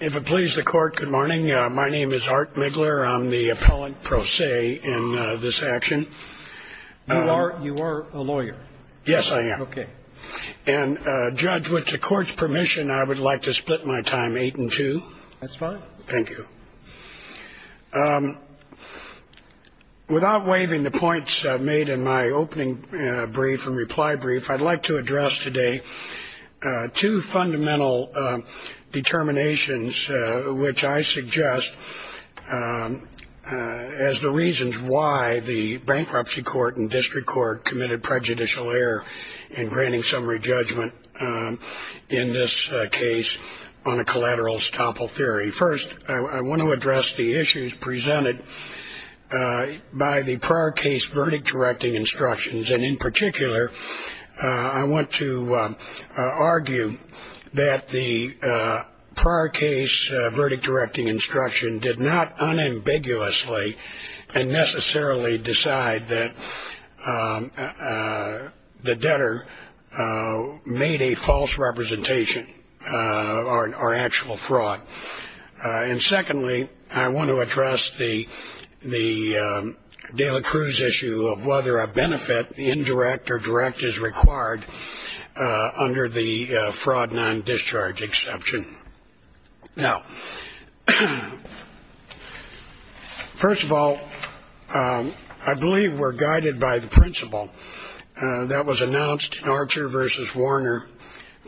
If it pleases the Court, good morning. My name is Art Muegler. I'm the appellant pro se in this action. You are a lawyer? Yes, I am. Okay. And, Judge, with the Court's permission, I would like to split my time eight and two. That's fine. Thank you. Without waiving the points made in my opening brief and reply brief, I'd like to address today two fundamental determinations which I suggest as the reasons why the bankruptcy court and district court committed prejudicial error in granting summary judgment in this case on a collateral estoppel theory. First, I want to address the issues presented by the prior case verdict directing instructions, and in particular, I want to argue that the prior case verdict directing instruction did not unambiguously and necessarily decide that the debtor made a false representation or actual fraud. And secondly, I want to address the Dela Cruz issue of whether a benefit, indirect or direct, is required under the fraud non-discharge exception. Now, first of all, I believe we're guided by the principle that was announced in Archer v. Warner,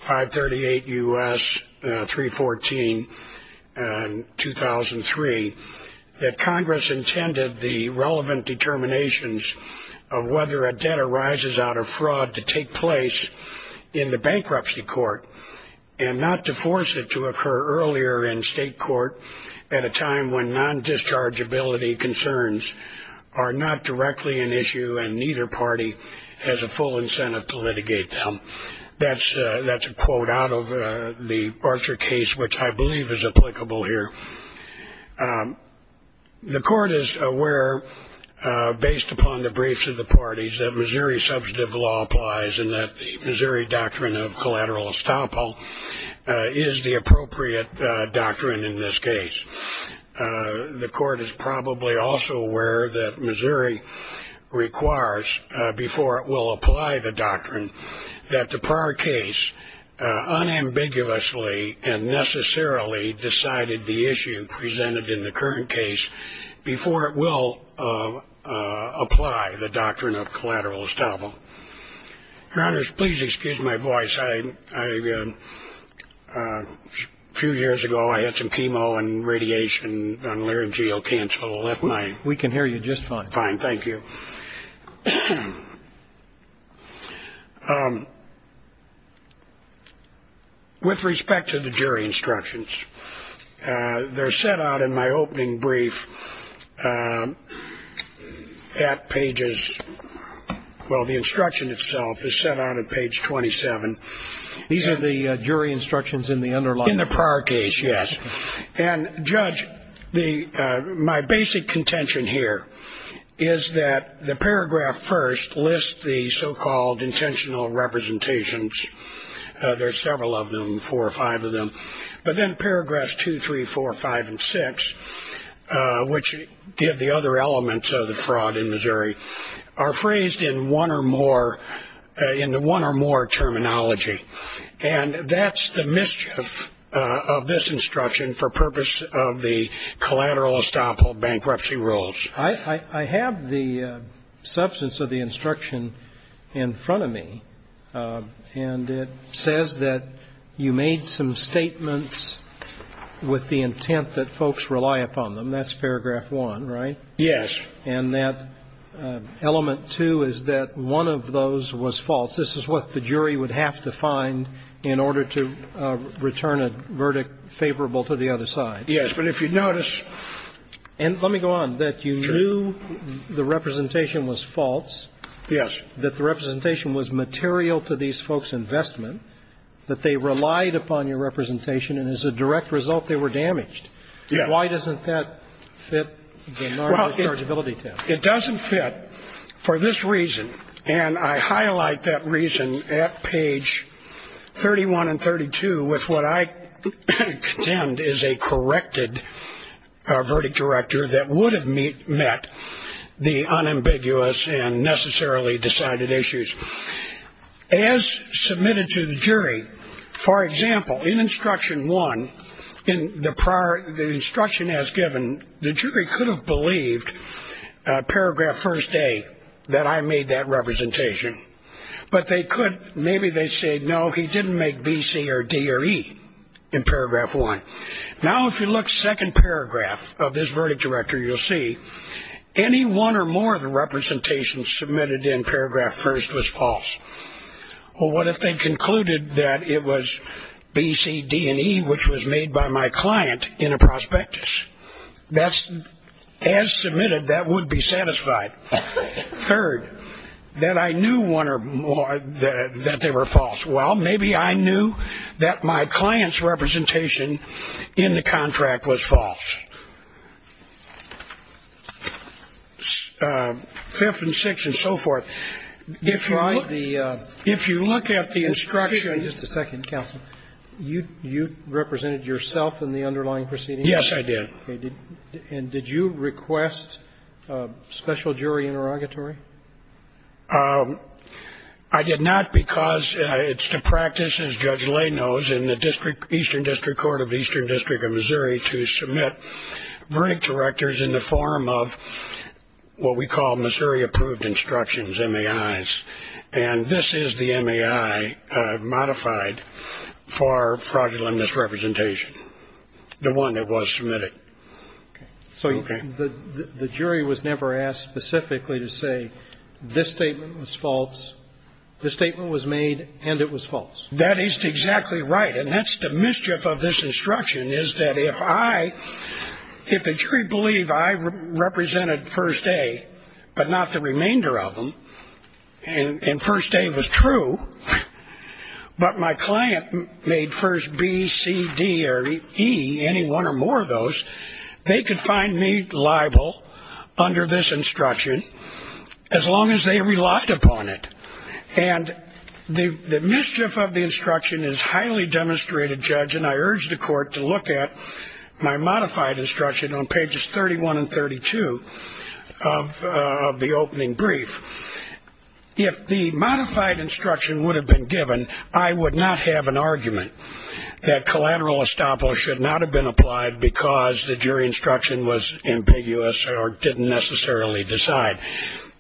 538 U.S. 314, 2003, that Congress intended the relevant determinations of whether a debtor rises out of fraud to take place in the bankruptcy court and not to force it to occur earlier in state court at a time when non-dischargeability concerns are not directly an issue and neither party has a full incentive to litigate them. That's a quote out of the Archer case, which I believe is applicable here. The court is aware, based upon the briefs of the parties, that Missouri substantive law applies and that the Missouri doctrine of collateral estoppel is the appropriate doctrine in this case. The court is probably also aware that Missouri requires, before it will apply the doctrine, that the prior case unambiguously and necessarily decided the issue presented in the current case before it will apply the doctrine of collateral estoppel. Your Honor, please excuse my voice. A few years ago, I had some chemo and radiation on laryngeal cancer that left my. We can hear you just fine. Fine, thank you. With respect to the jury instructions, they're set out in my opening brief at pages, well, the instruction itself is set out at page 27. These are the jury instructions in the underlying? In the prior case, yes. And, Judge, my basic contention here is that the paragraph first lists the so-called intentional representations. There are several of them, four or five of them. But then paragraphs 2, 3, 4, 5, and 6, which give the other elements of the fraud in Missouri, are phrased in one or more terminology. And that's the mischief of this instruction for purpose of the collateral estoppel bankruptcy rules. I have the substance of the instruction in front of me. And it says that you made some statements with the intent that folks rely upon them. That's paragraph 1, right? Yes. And that element 2 is that one of those was false. This is what the jury would have to find in order to return a verdict favorable to the other side. Yes. But if you notice ---- And let me go on. Sure. That you knew the representation was false. Yes. That the representation was material to these folks' investment, that they relied upon your representation, and as a direct result, they were damaged. Yes. Why doesn't that fit the NARA rechargeability test? Well, it doesn't fit for this reason, and I highlight that reason at page 31 and 32 with what I contend is a corrected verdict director that would have met the unambiguous and necessarily decided issues. As submitted to the jury, for example, in instruction 1, in the prior ---- the instruction as given, the jury could have believed paragraph 1A that I made that representation. But they could ---- maybe they said, no, he didn't make B, C, or D, or E in paragraph 1. Now, if you look second paragraph of this verdict director, you'll see any one or more of the representations submitted in paragraph 1st was false. Well, what if they concluded that it was B, C, D, and E, which was made by my client in a prospectus? As submitted, that would be satisfied. Third, that I knew one or more that they were false. Well, maybe I knew that my client's representation in the contract was false. Fifth and sixth and so forth. If you look at the instruction ---- Just a second, counsel. You represented yourself in the underlying proceedings? Yes, I did. Okay. And did you request special jury interrogatory? I did not because it's the practice, as Judge Lay knows, in the district ---- Eastern District Court of the Eastern District of Missouri to submit verdict directors in the form of what we call Missouri approved instructions, MAIs. And this is the MAI modified for fraudulent misrepresentation, the one that was submitted. Okay. So the jury was never asked specifically to say this statement was false, this statement was made, and it was false? That is exactly right. And that's the mischief of this instruction is that if I ---- if the jury believed I represented first A but not the remainder of them, and first A was true, but my client made first B, C, D, or E, any one or more of those, they could find me liable under this instruction as long as they relied upon it. And the mischief of the instruction is highly demonstrated, Judge, and I urge the court to look at my modified instruction on pages 31 and 32 of the opening brief. If the modified instruction would have been given, I would not have an argument that collateral estoppel should not have been applied because the jury instruction was ambiguous or didn't necessarily decide.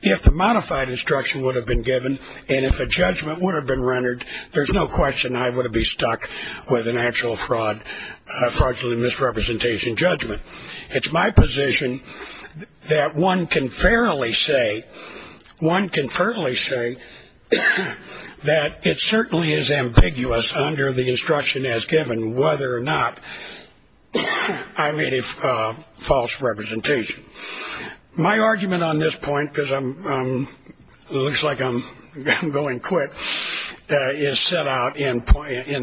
If the modified instruction would have been given and if a judgment would have been rendered, there's no question I would have been stuck with an actual fraud, fraudulent misrepresentation judgment. It's my position that one can fairly say, one can fairly say that it certainly is ambiguous under the instruction as given whether or not I made a false representation. My argument on this point, because it looks like I'm going quick, is set out in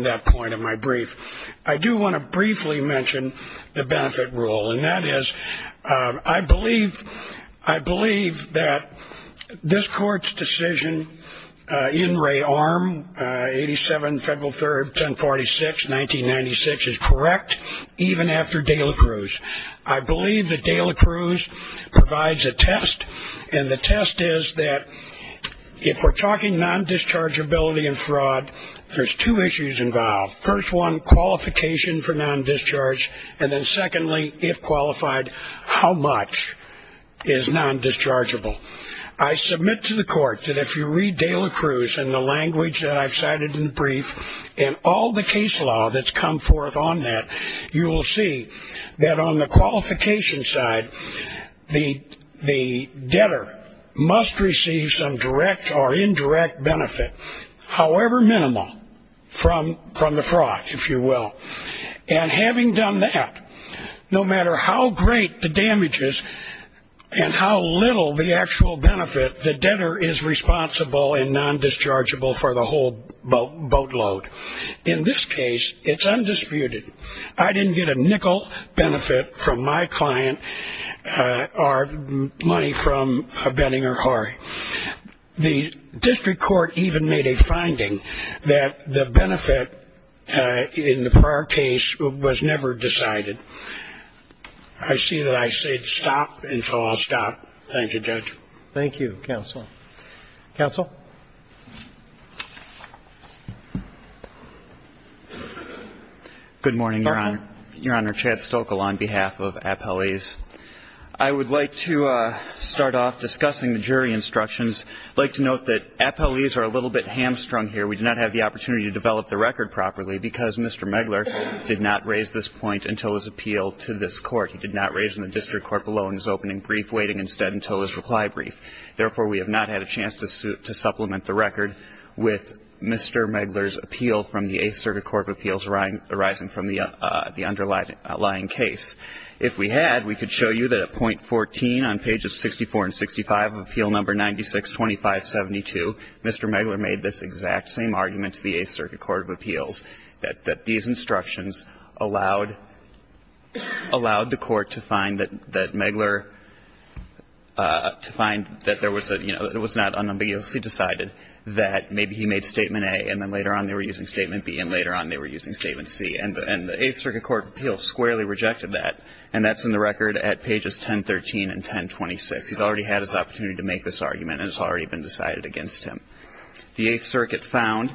that point of my brief. I do want to briefly mention the benefit rule, and that is I believe that this court's decision in Ray Arm, 87 Federal 3rd, 1046, 1996, is correct even after De La Cruz. I believe that De La Cruz provides a test, and the test is that if we're talking non-dischargeability and fraud, there's two issues involved. First one, qualification for non-discharge, and then secondly, if qualified, how much is non-dischargeable. I submit to the court that if you read De La Cruz and the language that I've cited in the brief and all the case law that's come forth on that, you will see that on the qualification side, the debtor must receive some direct or indirect benefit, however minimal, from the fraud, if you will. And having done that, no matter how great the damage is and how little the actual benefit, the debtor is responsible and non-dischargeable for the whole boatload. In this case, it's undisputed. I didn't get a nickel benefit from my client or money from a Benning or Harry. The district court even made a finding that the benefit in the prior case was never decided. I see that I said stop, and so I'll stop. Thank you, Judge. Thank you, counsel. Counsel. Stoeckel. Good morning, Your Honor. Your Honor, Chad Stoeckel on behalf of Appellees. I would like to start off discussing the jury instructions. I'd like to note that Appellees are a little bit hamstrung here. We do not have the opportunity to develop the record properly because Mr. Megler did not raise this point until his appeal to this Court. He did not raise it in the district court below in his opening brief, waiting instead until his reply brief. Therefore, we have not had a chance to supplement the record with Mr. Megler's appeal from the Eighth Circuit Court of Appeals arising from the underlying case. If we had, we could show you that at point 14 on pages 64 and 65 of Appeal No. 962572, Mr. Megler made this exact same argument to the Eighth Circuit Court of Appeals, that these instructions allowed the Court to find that Megler, to find that there was a, you know, it was not unambiguously decided that maybe he made Statement A and then later on they were using Statement B and later on they were using Statement C. And the Eighth Circuit Court of Appeals squarely rejected that. And that's in the record at pages 1013 and 1026. He's already had his opportunity to make this argument and it's already been decided against him. The Eighth Circuit found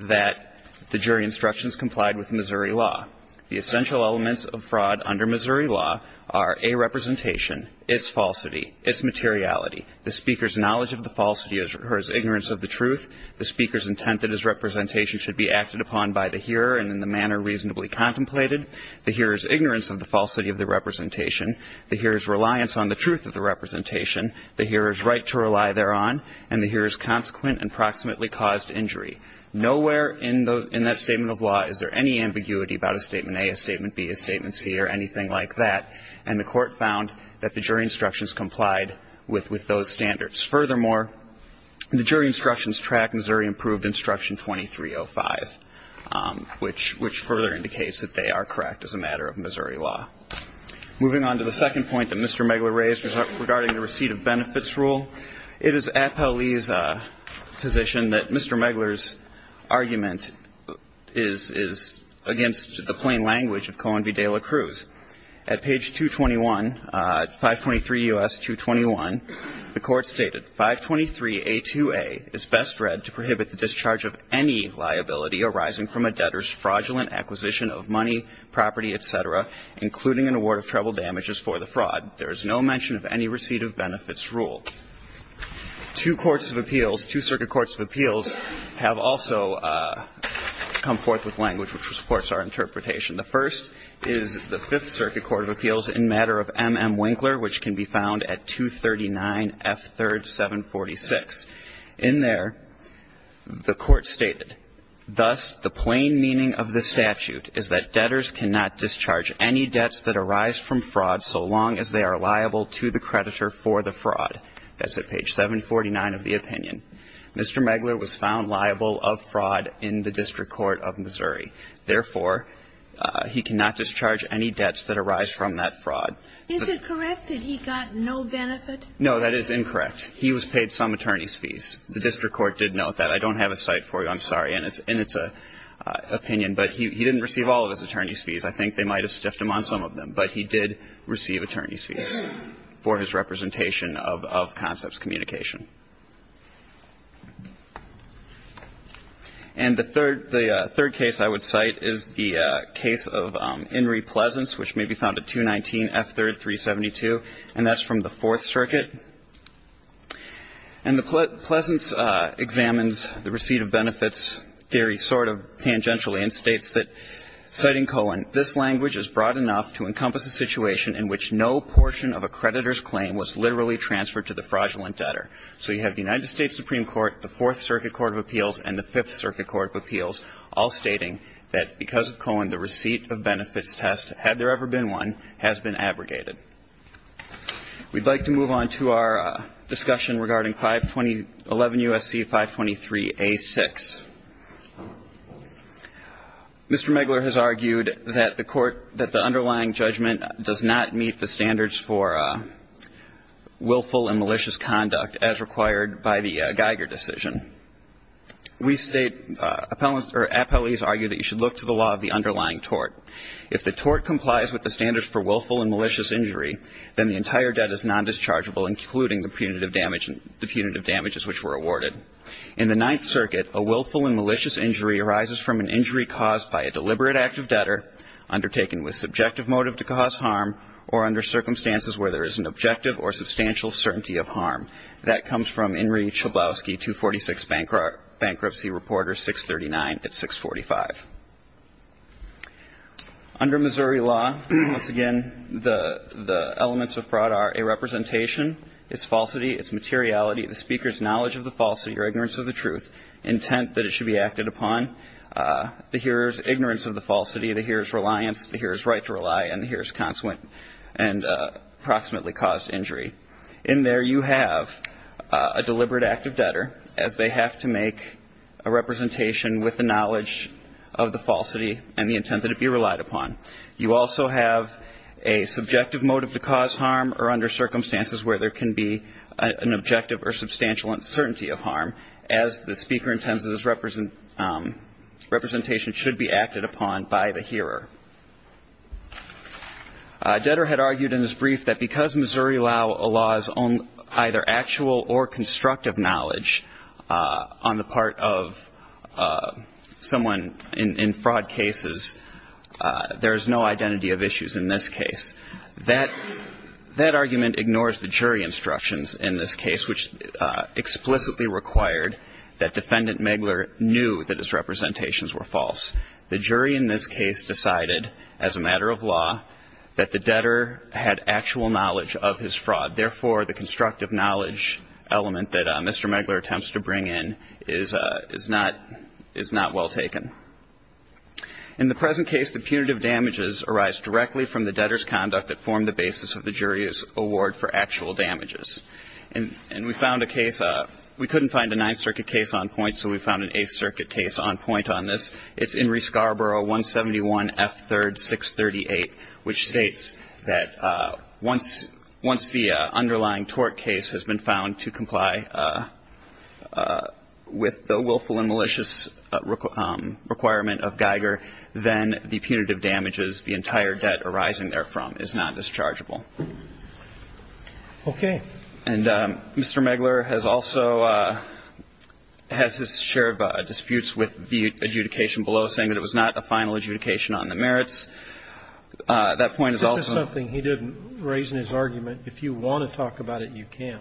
that the jury instructions complied with Missouri law. The essential elements of fraud under Missouri law are a representation, its falsity, its materiality, the speaker's knowledge of the falsity or his ignorance of the truth, the speaker's intent that his representation should be acted upon by the hearer and in the manner reasonably contemplated, the hearer's ignorance of the falsity of the representation, the hearer's reliance on the truth of the statement and approximately caused injury. Nowhere in that statement of law is there any ambiguity about a Statement A, a Statement B, a Statement C or anything like that. And the Court found that the jury instructions complied with those standards. Furthermore, the jury instructions track Missouri-approved Instruction 2305, which further indicates that they are correct as a matter of Missouri law. Moving on to the second point that Mr. Megler raised regarding the receipt of benefits rule, it is Appellee's position that Mr. Megler's argument is against the plain language of Cohen v. De La Cruz. At page 221, 523 U.S. 221, the Court stated, 523A2A is best read to prohibit the discharge of any liability arising from a debtor's fraudulent acquisition of money, property, et cetera, including an award of treble damages for the fraud. There is no mention of any receipt of benefits rule. Two courts of appeals, two circuit courts of appeals have also come forth with language which supports our interpretation. The first is the Fifth Circuit Court of Appeals in matter of M.M. Winkler, which can be found at 239F3rd746. In there, the Court stated, Thus, the plain meaning of the statute is that debtors cannot discharge any debts that arise from fraud so long as they are liable to the creditor for the fraud. That's at page 749 of the opinion. Mr. Megler was found liable of fraud in the District Court of Missouri. Therefore, he cannot discharge any debts that arise from that fraud. Is it correct that he got no benefit? No, that is incorrect. He was paid some attorney's fees. The District Court did note that. I don't have a cite for you. I'm sorry. And it's an opinion. But he didn't receive all of his attorney's fees. I think they might have stiffed him on some of them. But he did receive attorney's fees for his representation of concepts communication. And the third case I would cite is the case of Inree Pleasance, which may be found at 219F3rd372, and that's from the Fourth Circuit. And Pleasance examines the receipt of benefits theory sort of tangentially and states that, citing Cohen, this language is broad enough to encompass a situation in which no portion of a creditor's claim was literally transferred to the fraudulent debtor. So you have the United States Supreme Court, the Fourth Circuit Court of Appeals, and the Fifth Circuit Court of Appeals all stating that because of Cohen, the receipt of benefits test, had there ever been one, has been abrogated. We'd like to move on to our discussion regarding 520 11 U.S.C. 523A6. Mr. Megler has argued that the court, that the underlying judgment does not meet the standards for willful and malicious conduct as required by the Geiger decision. We state, appellees argue that you should look to the law of the underlying If the tort complies with the standards for willful and malicious injury, then the entire debt is nondischargeable, including the punitive damage, the punitive damages which were awarded. In the Ninth Circuit, a willful and malicious injury arises from an injury caused by a deliberate act of debtor undertaken with subjective motive to cause harm or under circumstances where there is an objective or substantial certainty of harm. That comes from Inree Chablowski, 246 Bankruptcy Reporter, 639 at 645. Under Missouri law, once again, the elements of fraud are a representation, its falsity, its materiality, the speaker's knowledge of the falsity or ignorance of the truth, intent that it should be acted upon, the hearer's ignorance of the falsity, the hearer's reliance, the hearer's right to rely, and the hearer's consequent and approximately caused injury. In there, you have a deliberate act of debtor, as they have to make a representation with the knowledge of the falsity and the intent that it be relied upon. You also have a subjective motive to cause harm or under circumstances where there can be an objective or substantial uncertainty of harm, as the speaker intends that its representation should be acted upon by the hearer. Debtor had argued in his brief that because Missouri law is either actual or constructive knowledge on the part of someone in fraud cases, there is no identity of issues in this case. That argument ignores the jury instructions in this case, which explicitly required that Defendant Megler knew that his representations were false. The jury in this case decided, as a matter of law, that the debtor had actual knowledge of his fraud. Therefore, the constructive knowledge element that Mr. Megler attempts to bring in is not well taken. In the present case, the punitive damages arise directly from the debtor's conduct that formed the basis of the jury's award for actual damages. And we found a case. We couldn't find a Ninth Circuit case on point, so we found an Eighth Circuit case on point on this. It's Inree Scarborough, 171 F. 3rd, 638, which states that once the underlying tort case has been found to comply with the willful and malicious requirement of Geiger, then the punitive damages, the entire debt arising therefrom, is not dischargeable. Okay. And Mr. Megler has also has his share of disputes with the adjudication below, saying that it was not a final adjudication on the merits. That point is also. This is something he didn't raise in his argument. If you want to talk about it, you can.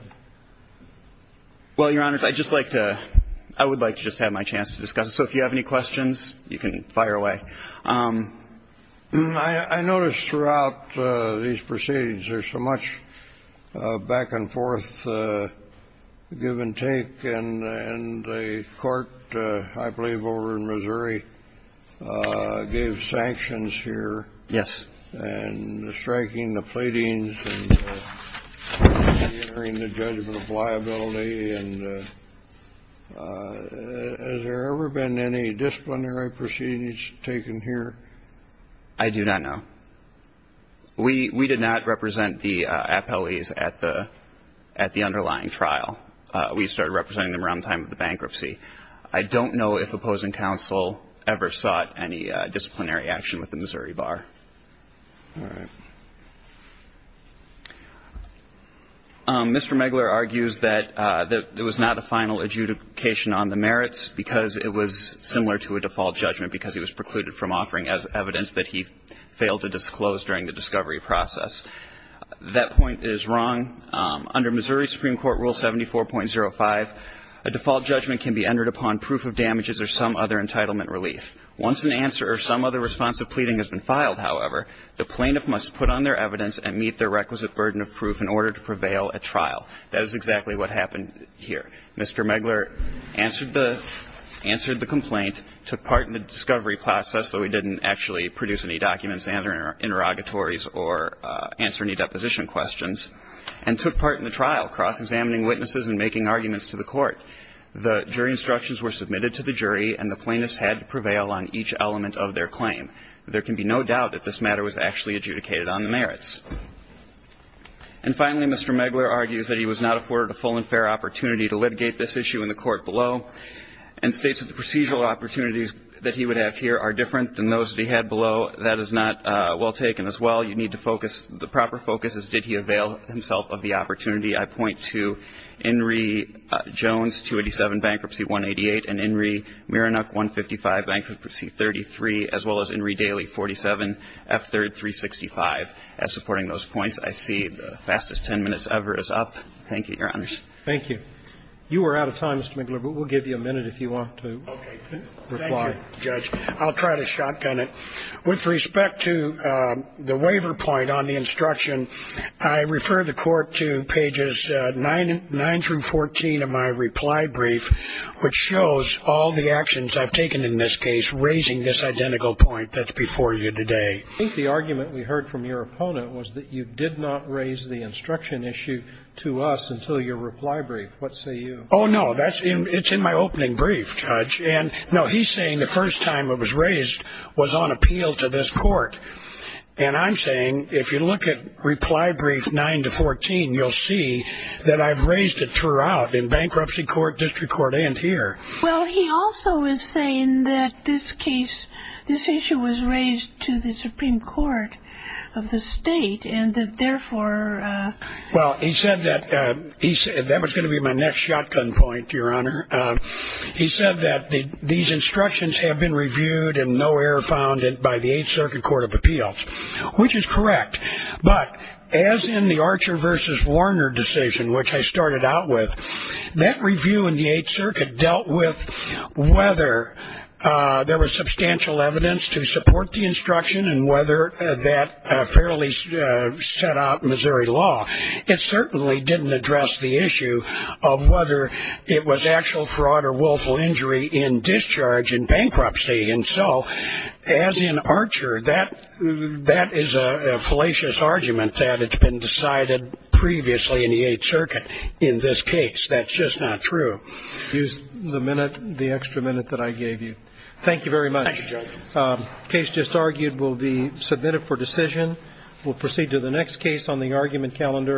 Well, Your Honors, I'd just like to – I would like to just have my chance to discuss it. So if you have any questions, you can fire away. I noticed throughout these proceedings there's so much back-and-forth give and take. And the Court, I believe over in Missouri, gave sanctions here. Yes. And striking the pleadings and reentering the judgment of liability. And has there ever been any disciplinary proceedings taken here? I do not know. We did not represent the appellees at the underlying trial. We started representing them around the time of the bankruptcy. I don't know if opposing counsel ever sought any disciplinary action with the Missouri All right. Mr. Megler argues that there was not a final adjudication on the merits because it was similar to a default judgment because it was precluded from offering as evidence that he failed to disclose during the discovery process. That point is wrong. Under Missouri Supreme Court Rule 74.05, a default judgment can be entered upon proof of damages or some other entitlement relief. Once an answer or some other response to a pleading has been filed, however, the plaintiff must put on their evidence and meet their requisite burden of proof in order to prevail at trial. That is exactly what happened here. Mr. Megler answered the complaint, took part in the discovery process, though he didn't actually produce any documents and interrogatories or answer any deposition questions, and took part in the trial, cross-examining witnesses and making arguments to the Court. The jury instructions were submitted to the jury, and the plaintiffs had to prevail on each element of their claim. There can be no doubt that this matter was actually adjudicated on the merits. And finally, Mr. Megler argues that he was not afforded a full and fair opportunity to litigate this issue in the court below, and states that the procedural opportunities that he would have here are different than those that he had below. That is not well taken as well. You need to focus. The proper focus is did he avail himself of the opportunity. I point to Inree Jones, 287, Bankruptcy 188, and Inree Mirenuk, 155, Bankruptcy 33, as well as Inree Daley, 47, F3rd 365. As supporting those points, I see the fastest 10 minutes ever is up. Thank you, Your Honors. Thank you. You are out of time, Mr. Megler, but we'll give you a minute if you want to reply. Thank you, Judge. I'll try to shotgun it. With respect to the waiver point on the instruction, I refer the Court to pages 9 through 14 of my reply brief, which shows all the actions I've taken in this case raising this identical point that's before you today. I think the argument we heard from your opponent was that you did not raise the instruction issue to us until your reply brief. What say you? Oh, no. It's in my opening brief, Judge. And, no, he's saying the first time it was raised was on appeal to this Court. And I'm saying if you look at reply brief 9 to 14, you'll see that I've raised it throughout in bankruptcy court, district court, and here. Well, he also is saying that this case, this issue was raised to the Supreme Court of the state and that, therefore — Well, he said that — that was going to be my next shotgun point, Your Honor. He said that these instructions have been reviewed and no error found by the Eighth Circuit Court of Appeals, which is correct. But as in the Archer versus Warner decision, which I started out with, that review in the Eighth Circuit dealt with whether there was substantial evidence to support the instruction and whether that fairly set out Missouri law. It certainly didn't address the issue of whether it was actual fraud or willful injury in discharge in bankruptcy. And so, as in Archer, that is a fallacious argument that it's been decided previously in the Eighth Circuit in this case. That's just not true. Use the minute, the extra minute that I gave you. Thank you very much. Thank you, Judge. The case just argued will be submitted for decision. We'll proceed to the next case on the argument calendar.